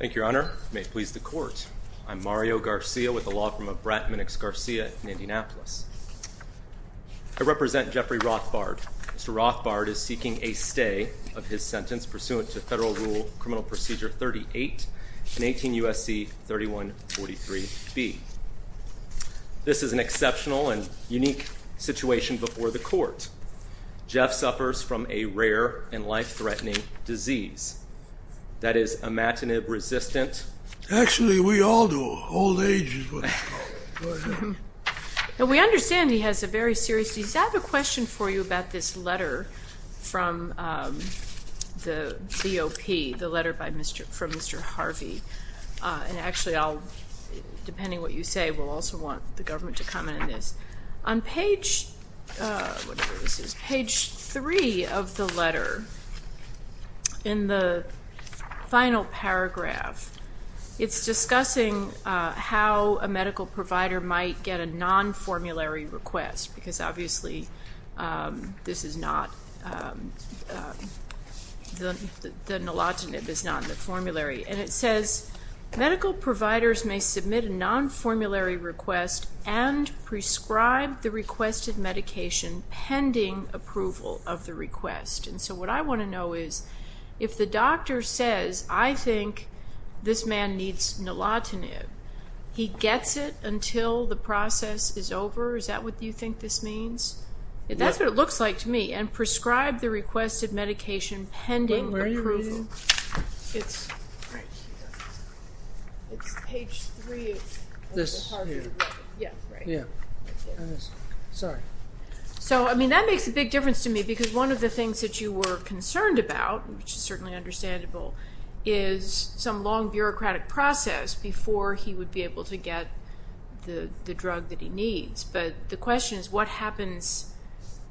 Thank you, Your Honor. May it please the Court, I'm Mario Garcia with the law firm of Bratman X Garcia in Indianapolis. I represent Jeffrey Rothbard. Mr. Rothbard is seeking a stay of his sentence pursuant to Federal Rule Criminal Procedure 38 and 18 U.S.C. 3143b. This is an exceptional and unique situation before the Court. Jeff suffers from a rare and life-threatening disease that is imatinib-resistant. Actually, we all do. Old age is what it's called. We understand he has a very serious disease. I have a question for you about this letter from the DOP, the letter from Mr. Harvey. And actually, depending on what you say, we'll also want the government to comment on this. On page 3 of the letter, in the final paragraph, it's discussing how a medical provider might get a non-formulary request. Because obviously, the nilotinib is not in the formulary. And it says, medical providers may submit a non-formulary request and prescribe the requested medication pending approval of the request. And so what I want to know is, if the doctor says, I think this man needs nilotinib, he gets it until the process is over? Is that what you think this means? That's what it looks like to me. And prescribe the requested medication pending approval. Where are you reading? It's right here. It's page 3 of the Harvey letter. This here? Yeah, right here. I missed it. Sorry. So, I mean, that makes a big difference to me because one of the things that you were concerned about, which is certainly understandable, is some long bureaucratic process before he would be able to get the drug that he needs. But the question is, what happens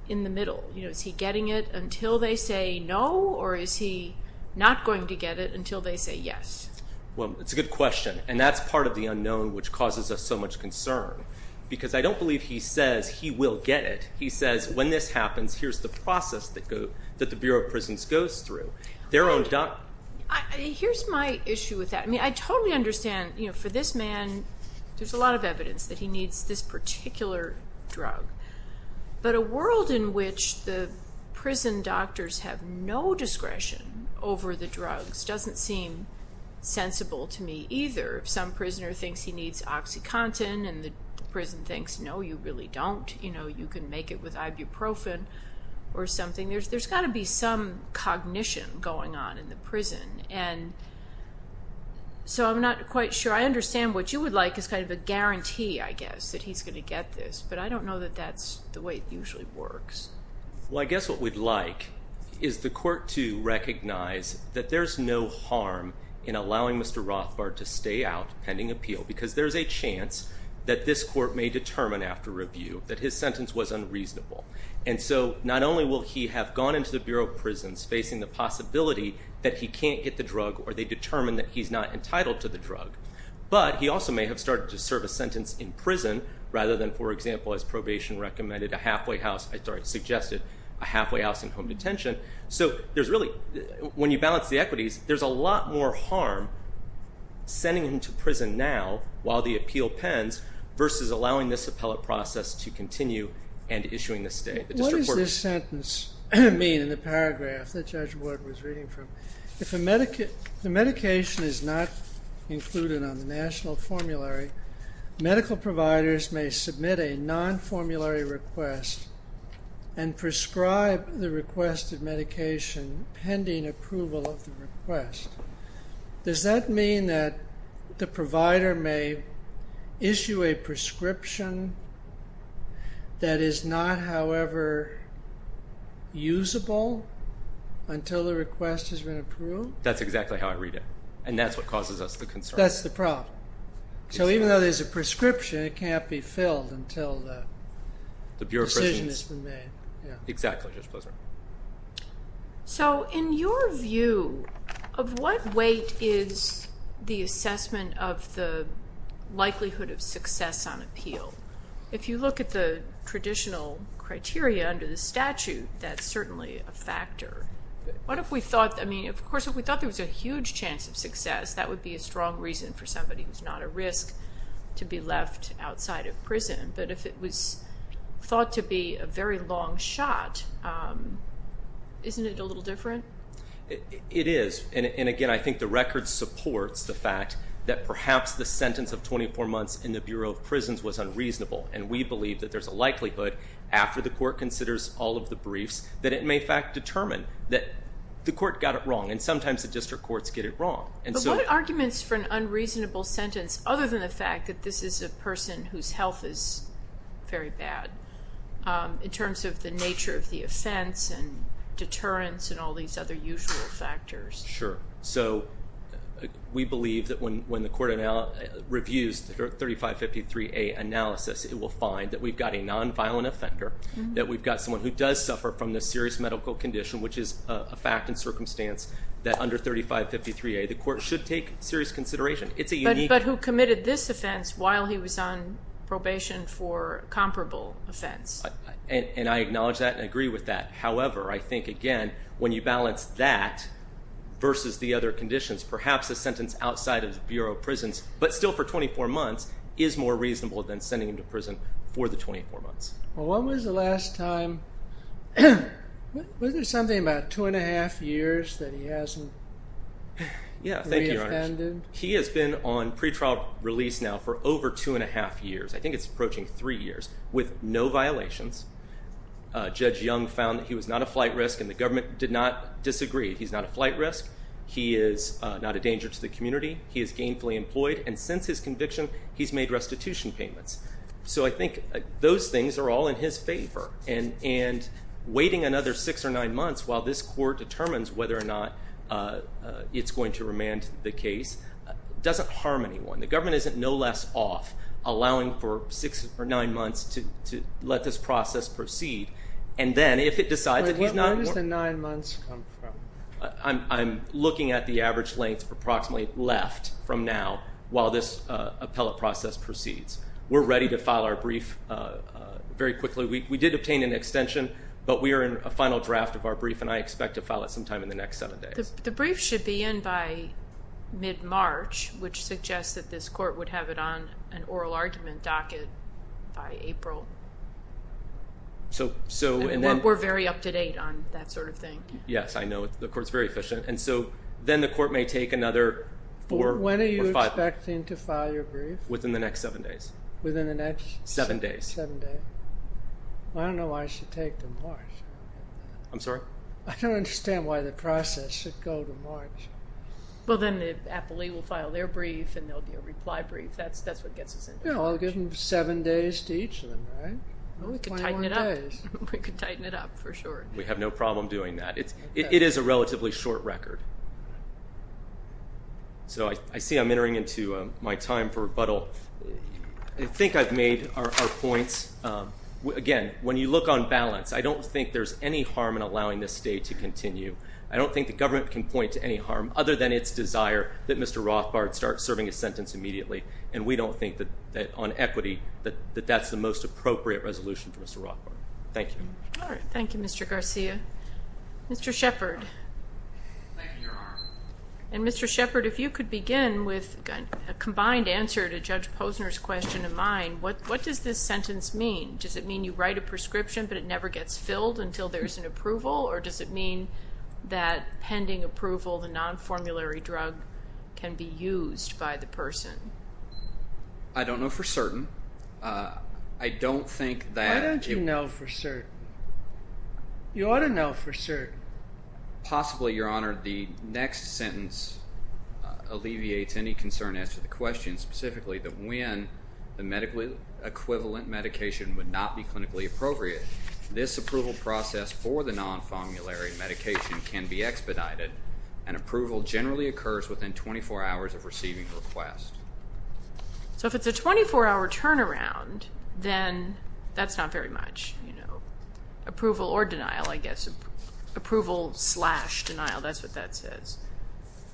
in the middle? Is he getting it until they say no? Or is he not going to get it until they say yes? Well, it's a good question. And that's part of the unknown which causes us so much concern. Because I don't believe he says he will get it. He says, when this happens, here's the process that the Bureau of Prisons goes through. Here's my issue with that. I mean, I totally understand. For this man, there's a lot of evidence that he needs this particular drug. But a world in which the prison doctors have no discretion over the drugs doesn't seem sensible to me either. If some prisoner thinks he needs OxyContin and the prison thinks, no, you really don't. You can make it with Ibuprofen or something. There's got to be some cognition going on in the prison. So I'm not quite sure. I understand what you would like is kind of a guarantee, I guess, that he's going to get this. But I don't know that that's the way it usually works. Well, I guess what we'd like is the court to recognize that there's no harm in allowing Mr. Rothbard to stay out pending appeal. Because there's a chance that this court may determine after review that his sentence was unreasonable. And so not only will he have gone into the Bureau of Prisons facing the possibility that he can't get the drug or they determine that he's not entitled to the drug, but he also may have started to serve a sentence in prison rather than, for example, as probation recommended, a halfway house in home detention. So there's really, when you balance the equities, there's a lot more harm sending him to prison now while the appeal pens versus allowing this appellate process to continue and issuing the stay. What does this sentence mean in the paragraph that Judge Wood was reading from? If the medication is not included on the national formulary, medical providers may submit a non-formulary request and prescribe the requested medication pending approval of the request. Does that mean that the provider may issue a prescription that is not, however, usable until the request has been approved? That's exactly how I read it, and that's what causes us the concern. That's the problem. So even though there's a prescription, it can't be filled until the decision has been made. The Bureau of Prisons. Exactly. So in your view, of what weight is the assessment of the likelihood of success on appeal? If you look at the traditional criteria under the statute, that's certainly a factor. What if we thought, I mean, of course, if we thought there was a huge chance of success, that would be a strong reason for somebody who's not at risk to be left outside of prison. But if it was thought to be a very long shot, isn't it a little different? It is. And, again, I think the record supports the fact that perhaps the sentence of 24 months in the Bureau of Prisons was unreasonable. And we believe that there's a likelihood, after the court considers all of the briefs, that it may, in fact, determine that the court got it wrong. And sometimes the district courts get it wrong. But what arguments for an unreasonable sentence, other than the fact that this is a person whose health is very bad, in terms of the nature of the offense and deterrence and all these other usual factors? Sure. So we believe that when the court reviews the 3553A analysis, it will find that we've got a nonviolent offender, that we've got someone who does suffer from this serious medical condition, which is a fact and circumstance that under 3553A the court should take serious consideration. But who committed this offense while he was on probation for a comparable offense. And I acknowledge that and agree with that. However, I think, again, when you balance that versus the other conditions, perhaps a sentence outside of the Bureau of Prisons, but still for 24 months, is more reasonable than sending him to prison for the 24 months. Well, when was the last time, was there something about two and a half years that he hasn't reoffended? Yeah, thank you, Your Honor. He has been on pretrial release now for over two and a half years. I think it's approaching three years, with no violations. Judge Young found that he was not a flight risk, and the government did not disagree. He's not a flight risk. He is not a danger to the community. He is gainfully employed. And since his conviction, he's made restitution payments. So I think those things are all in his favor. And waiting another six or nine months while this court determines whether or not it's going to remand the case doesn't harm anyone. The government isn't no less off allowing for six or nine months to let this process proceed. And then if it decides that he's not going to- Wait, where does the nine months come from? I'm looking at the average length approximately left from now while this appellate process proceeds. We're ready to file our brief very quickly. We did obtain an extension, but we are in a final draft of our brief, and I expect to file it sometime in the next seven days. The brief should be in by mid-March, which suggests that this court would have it on an oral argument docket by April. We're very up to date on that sort of thing. Yes, I know. The court's very efficient. And so then the court may take another four or five- When are you expecting to file your brief? Within the next seven days. Within the next- Seven days. Seven days. I don't know why it should take to March. I'm sorry? I don't understand why the process should go to March. Well, then the appellate will file their brief, and they'll do a reply brief. That's what gets us into- Yeah, we'll give them seven days to each of them, right? We could tighten it up. We could tighten it up for sure. We have no problem doing that. It is a relatively short record. So I see I'm entering into my time for rebuttal. I think I've made our points. Again, when you look on balance, I don't think there's any harm in allowing this stay to continue. I don't think the government can point to any harm other than its desire that Mr. Rothbard start serving his sentence immediately, and we don't think that on equity that that's the most appropriate resolution for Mr. Rothbard. Thank you. All right. Thank you, Mr. Garcia. Mr. Shepard. Thank you, Your Honor. And Mr. Shepard, if you could begin with a combined answer to Judge Posner's question of mine, what does this sentence mean? Does it mean you write a prescription, but it never gets filled until there's an approval, or does it mean that pending approval, the non-formulary drug can be used by the person? I don't know for certain. I don't think that- Why don't you know for certain? You ought to know for certain. Possibly, Your Honor, the next sentence alleviates any concern as to the question specifically that when the medical equivalent medication would not be clinically appropriate, this approval process for the non-formulary medication can be expedited and approval generally occurs within 24 hours of receiving the request. So if it's a 24-hour turnaround, then that's not very much. Approval or denial, I guess. Approval slash denial, that's what that says.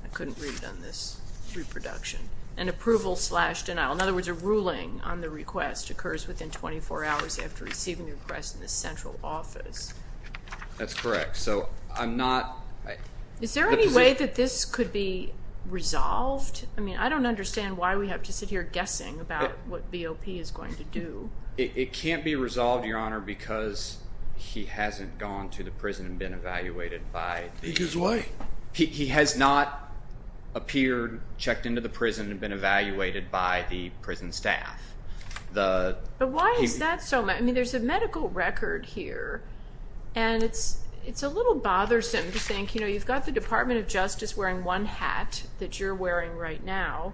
I couldn't read it on this reproduction. And approval slash denial. In other words, a ruling on the request occurs within 24 hours after receiving the request in the central office. That's correct. So I'm not- Is there any way that this could be resolved? I mean, I don't understand why we have to sit here guessing about what BOP is going to do. It can't be resolved, Your Honor, because he hasn't gone to the prison and been evaluated by the- He did what? He has not appeared, checked into the prison, and been evaluated by the prison staff. But why is that so? I mean, there's a medical record here, and it's a little bothersome to think, you know, you've got the Department of Justice wearing one hat that you're wearing right now,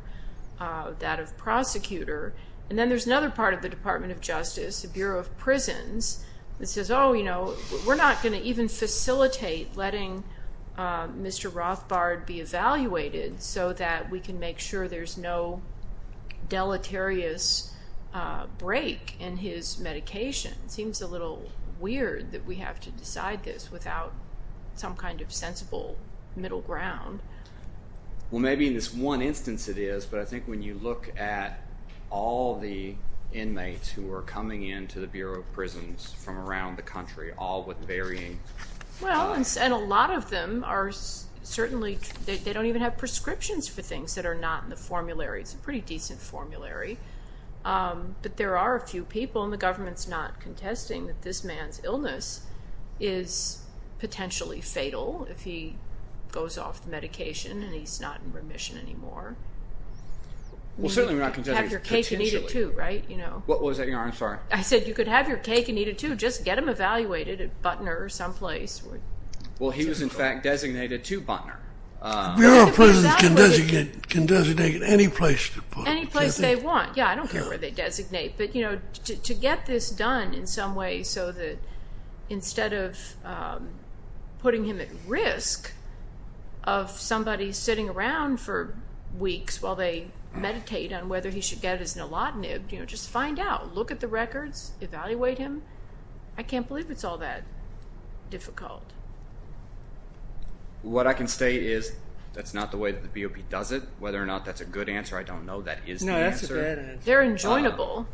that of prosecutor, and then there's another part of the Department of Justice, the Bureau of Prisons, that says, oh, you know, we're not going to even facilitate letting Mr. Rothbard be evaluated so that we can make sure there's no deleterious break in his medication. It seems a little weird that we have to decide this without some kind of sensible middle ground. Well, maybe in this one instance it is, but I think when you look at all the inmates who are coming into the Bureau of Prisons from around the country, all with varying- Well, and a lot of them are certainly, they don't even have prescriptions for things that are not in the formulary. It's a pretty decent formulary. But there are a few people, and the government's not contesting, that this man's illness is potentially fatal if he goes off the medication and he's not in remission anymore. Well, certainly we're not contesting- Have your cake and eat it, too, right? What was that? I'm sorry. I said you could have your cake and eat it, too. Just get him evaluated at Butner someplace. Well, he was, in fact, designated to Butner. Bureau of Prisons can designate at any place. Any place they want. Yeah, I don't care where they designate. But, you know, to get this done in some way so that instead of putting him at risk of somebody sitting around for weeks while they meditate on whether he should get his nalodnib, you know, just find out. Look at the records. Evaluate him. I can't believe it's all that difficult. What I can say is that's not the way the BOP does it. Whether or not that's a good answer, I don't know. That is the answer. No, that's a good answer. They're enjoinable.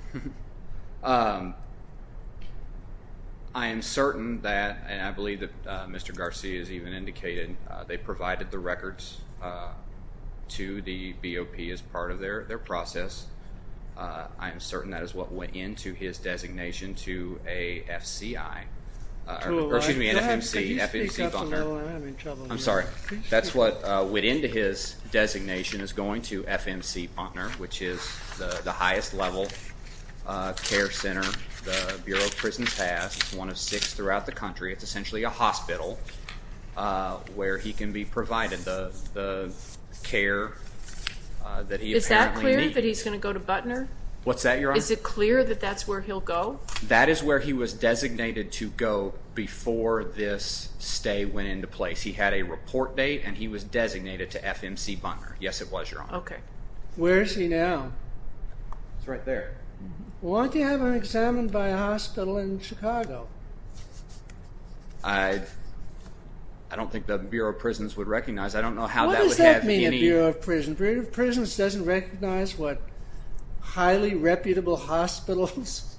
I am certain that, and I believe that Mr. Garcia has even indicated, they provided the records to the BOP as part of their process. I am certain that is what went into his designation to a FCI. Excuse me, an FMC, FMC Butner. I'm sorry. That's what went into his designation is going to FMC Butner, which is the highest level care center. The Bureau of Prisons has one of six throughout the country. It's essentially a hospital where he can be provided the care that he apparently needs. Is that clear, that he's going to go to Butner? What's that, Your Honor? Is it clear that that's where he'll go? That is where he was designated to go before this stay went into place. He had a report date, and he was designated to FMC Butner. Yes, it was, Your Honor. Okay. Where is he now? He's right there. Why do you have him examined by a hospital in Chicago? I don't think the Bureau of Prisons would recognize. I don't know how that would have any— What does that mean, the Bureau of Prisons? The Bureau of Prisons doesn't recognize what highly reputable hospitals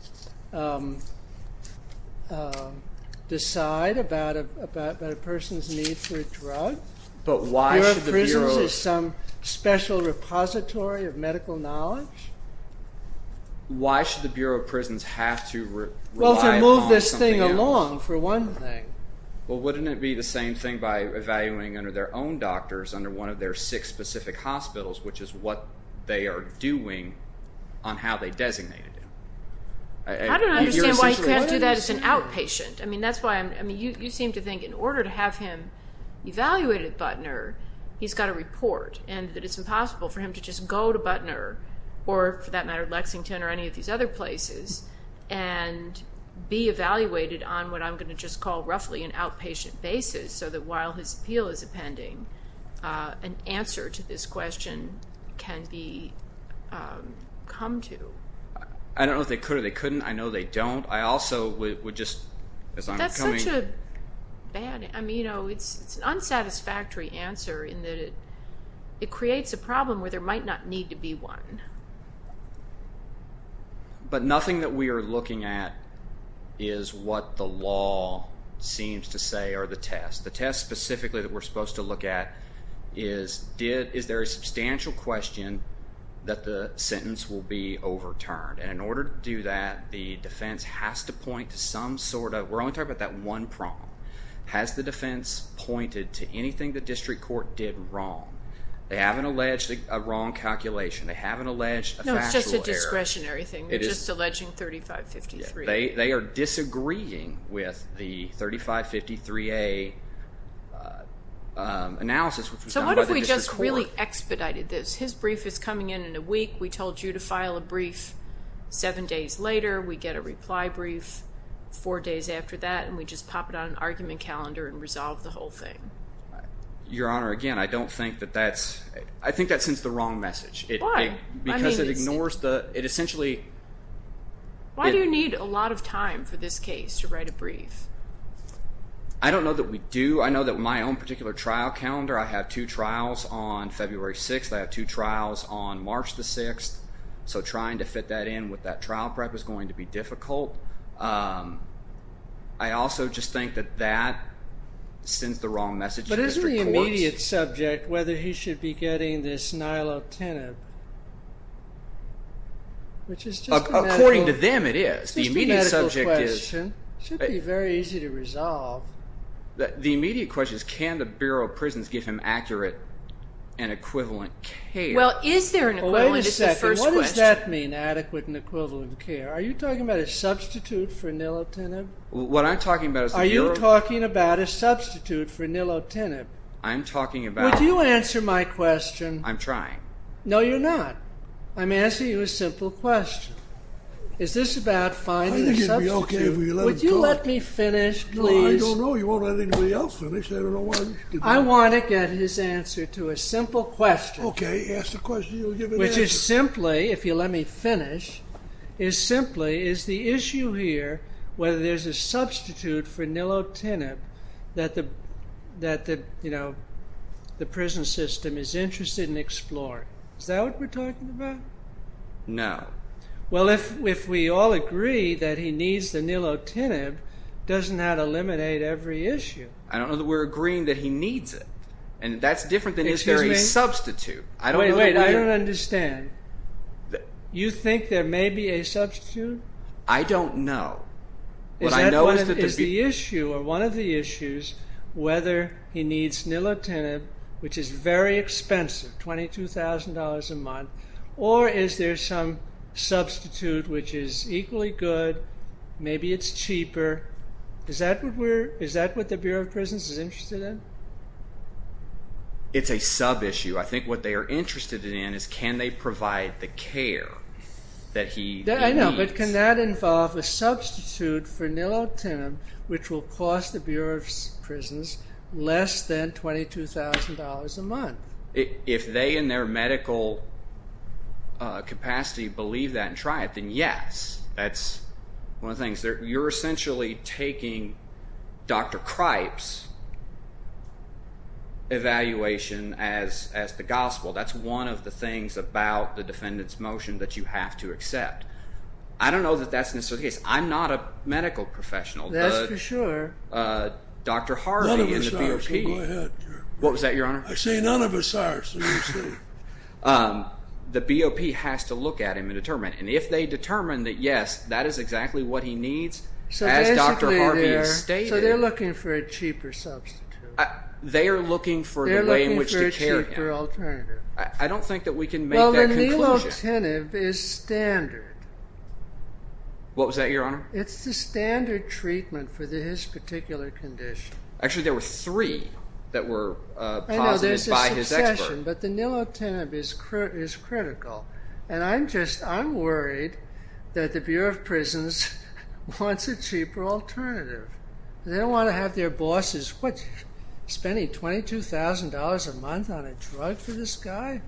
decide about a person's need for a drug. The Bureau of Prisons is some special repository of medical knowledge? Why should the Bureau of Prisons have to rely on something else? Well, to move this thing along, for one thing. Well, wouldn't it be the same thing by evaluating under their own doctors, under one of their six specific hospitals, which is what they are doing on how they designated him? I don't understand why he can't do that as an outpatient. I mean, that's why I'm—I mean, you seem to think in order to have him evaluated at Butner, he's got to report and that it's impossible for him to just go to Butner or, for that matter, Lexington or any of these other places and be evaluated on what I'm going to just call roughly an outpatient basis so that while his appeal is appending, an answer to this question can be come to. I don't know if they could or they couldn't. I know they don't. I also would just, as I'm coming— That's such a bad—I mean, you know, it's an unsatisfactory answer in that it creates a problem where there might not need to be one. But nothing that we are looking at is what the law seems to say or the test. The test specifically that we're supposed to look at is, is there a substantial question that the sentence will be overturned? And in order to do that, the defense has to point to some sort of—we're only talking about that one prong. Has the defense pointed to anything the district court did wrong? They haven't alleged a wrong calculation. They haven't alleged a factual error. No, it's just a discretionary thing. They're just alleging 3553A. They are disagreeing with the 3553A analysis which was done by the district court. So what if we just really expedited this? His brief is coming in in a week. We told you to file a brief seven days later. We get a reply brief four days after that, and we just pop it on an argument calendar and resolve the whole thing. Your Honor, again, I don't think that that's—I think that sends the wrong message. Why? I mean— Because it ignores the—it essentially— Why do you need a lot of time for this case to write a brief? I don't know that we do. I know that my own particular trial calendar, I have two trials on February 6th. I have two trials on March 6th. So trying to fit that in with that trial prep is going to be difficult. I also just think that that sends the wrong message to district courts. But isn't the immediate subject whether he should be getting this nilotinib? According to them, it is. It's just a medical question. The immediate subject is— It should be very easy to resolve. The immediate question is can the Bureau of Prisons give him accurate and equivalent care? Well, is there an equivalent? Wait a second. What does that mean, adequate and equivalent care? Are you talking about a substitute for nilotinib? What I'm talking about is— Are you talking about a substitute for nilotinib? I'm talking about— Would you answer my question? I'm trying. No, you're not. I'm asking you a simple question. Is this about finding a substitute? I think it would be okay if we let it go. Would you let me finish, please? I don't know. You won't let anybody else finish. I don't know why— I want to get his answer to a simple question. Okay. Ask the question. You'll give an answer. Which is simply, if you'll let me finish, is simply is the issue here whether there's a substitute for nilotinib that the prison system is interested in exploring. Is that what we're talking about? No. Well, if we all agree that he needs the nilotinib, doesn't that eliminate every issue? I don't know that we're agreeing that he needs it. And that's different than is there a substitute. Excuse me? I don't know. Wait. I don't understand. You think there may be a substitute? I don't know. What I know is that the— which is equally good. Maybe it's cheaper. Is that what the Bureau of Prisons is interested in? It's a sub-issue. I think what they are interested in is can they provide the care that he needs. I know. But can that involve a substitute for nilotinib, which will cost the Bureau of Prisons less than $22,000 a month? If they in their medical capacity believe that and try it, then yes. That's one of the things. You're essentially taking Dr. Cripes' evaluation as the gospel. That's one of the things about the defendant's motion that you have to accept. I don't know that that's necessarily the case. I'm not a medical professional. But Dr. Harvey in the BOP— None of us are. Go ahead. What was that, Your Honor? I say none of us are. The BOP has to look at him and determine. And if they determine that yes, that is exactly what he needs, as Dr. Harvey stated— So they're looking for a cheaper substitute. They are looking for the way in which to care him. They're looking for a cheaper alternative. I don't think that we can make that conclusion. Well, the nilotinib is standard. What was that, Your Honor? It's the standard treatment for his particular condition. Actually, there were three that were posited by his expert. I know there's a succession, but the nilotinib is critical. And I'm just—I'm worried that the Bureau of Prisons wants a cheaper alternative. They don't want to have their bosses, what, spending $22,000 a month on a drug for this guy?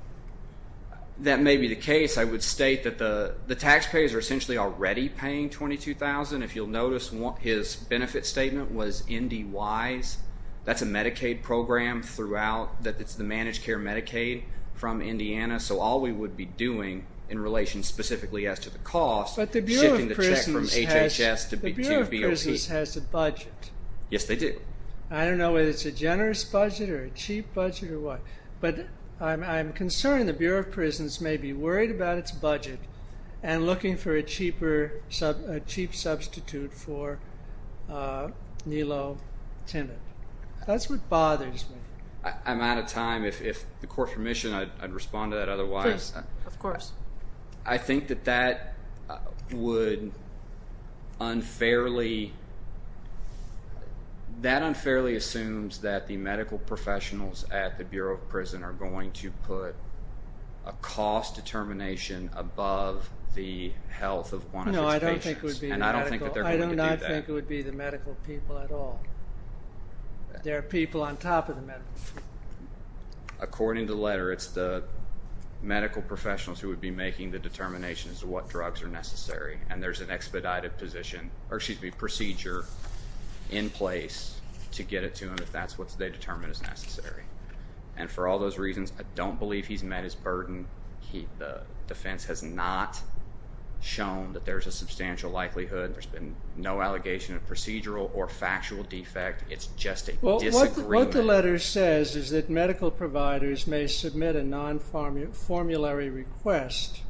That may be the case. I would state that the taxpayers are essentially already paying $22,000. If you'll notice, his benefit statement was NDYs. That's a Medicaid program throughout. It's the managed care Medicaid from Indiana. So all we would be doing in relation specifically as to the cost— But the Bureau of Prisons has— —shifting the check from HHS to BOP. The Bureau of Prisons has a budget. Yes, they do. I don't know whether it's a generous budget or a cheap budget or what. But I'm concerned the Bureau of Prisons may be worried about its budget and looking for a cheaper—a cheap substitute for nilotinib. That's what bothers me. I'm out of time. If the Court's permission, I'd respond to that otherwise. Please. Of course. I think that that would unfairly— —put a cost determination above the health of one of its patients. No, I don't think it would be the medical— And I don't think that they're going to do that. I do not think it would be the medical people at all. There are people on top of the medical people. According to the letter, it's the medical professionals who would be making the determinations of what drugs are necessary. And there's an expedited procedure in place to get it to them if that's what they determine is necessary. And for all those reasons, I don't believe he's met his burden. The defense has not shown that there's a substantial likelihood. There's been no allegation of procedural or factual defect. It's just a disagreement. Well, what the letter says is that medical providers may submit a non-formulary request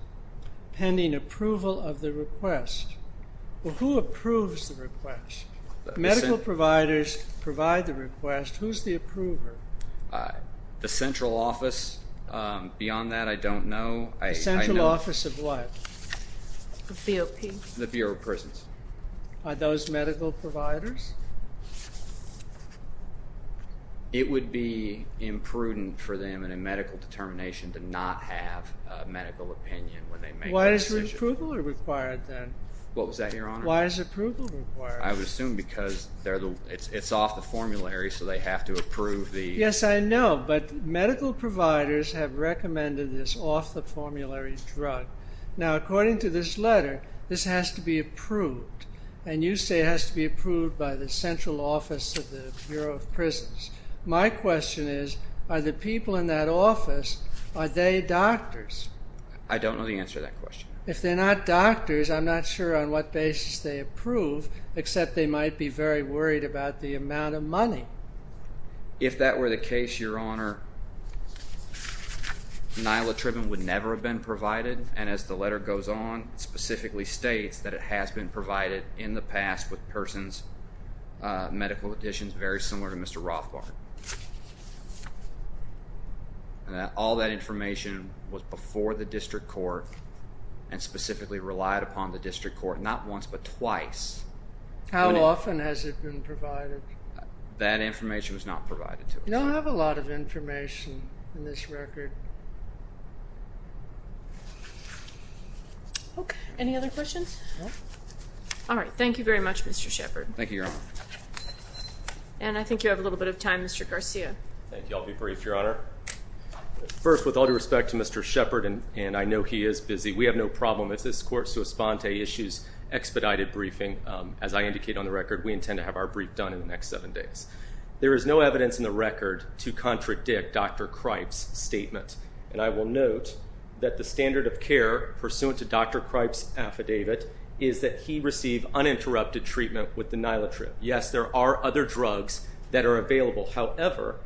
pending approval of the request. Well, who approves the request? Medical providers provide the request. Who's the approver? The central office. Beyond that, I don't know. The central office of what? The BOP. The Bureau of Prisons. Are those medical providers? It would be imprudent for them in a medical determination to not have a medical opinion when they make that decision. Why is approval required then? What was that, Your Honor? Why is approval required? I would assume because it's off the formulary, so they have to approve the... Yes, I know, but medical providers have recommended this off the formulary drug. Now, according to this letter, this has to be approved. And you say it has to be approved by the central office of the Bureau of Prisons. My question is, are the people in that office, are they doctors? I don't know the answer to that question. If they're not doctors, I'm not sure on what basis they approve, except they might be very worried about the amount of money. If that were the case, Your Honor, nilatribine would never have been provided, and as the letter goes on, it specifically states that it has been provided in the past with persons' medical conditions very similar to Mr. Rothbard. All that information was before the district court and specifically relied upon the district court, not once but twice. How often has it been provided? That information was not provided to us. You don't have a lot of information in this record. Okay, any other questions? No. All right, thank you very much, Mr. Shepard. Thank you, Your Honor. And I think you have a little bit of time, Mr. Garcia. Thank you, I'll be brief, Your Honor. First, with all due respect to Mr. Shepard, and I know he is busy, we have no problem if this court so esponte issues expedited briefing. As I indicate on the record, we intend to have our brief done in the next seven days. There is no evidence in the record to contradict Dr. Cripes' statement, and I will note that the standard of care pursuant to Dr. Cripes' affidavit is that he received uninterrupted treatment with the nilatrib. Yes, there are other drugs that are available. However,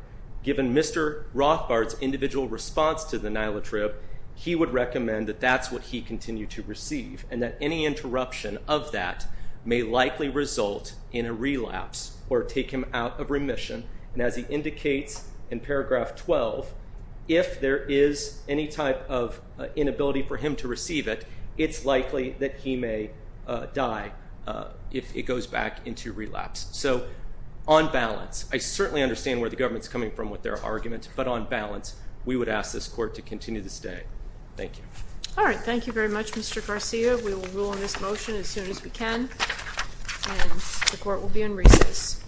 given Mr. Rothbard's individual response to the nilatrib, he would recommend that that's what he continued to receive and that any interruption of that may likely result in a relapse or take him out of remission. And as he indicates in paragraph 12, if there is any type of inability for him to receive it, it's likely that he may die if it goes back into relapse. So, on balance, I certainly understand where the government is coming from with their argument, but on balance, we would ask this court to continue to stay. Thank you. All right. Thank you very much, Mr. Garcia. We will rule on this motion as soon as we can, and the court will be in recess. Thank you.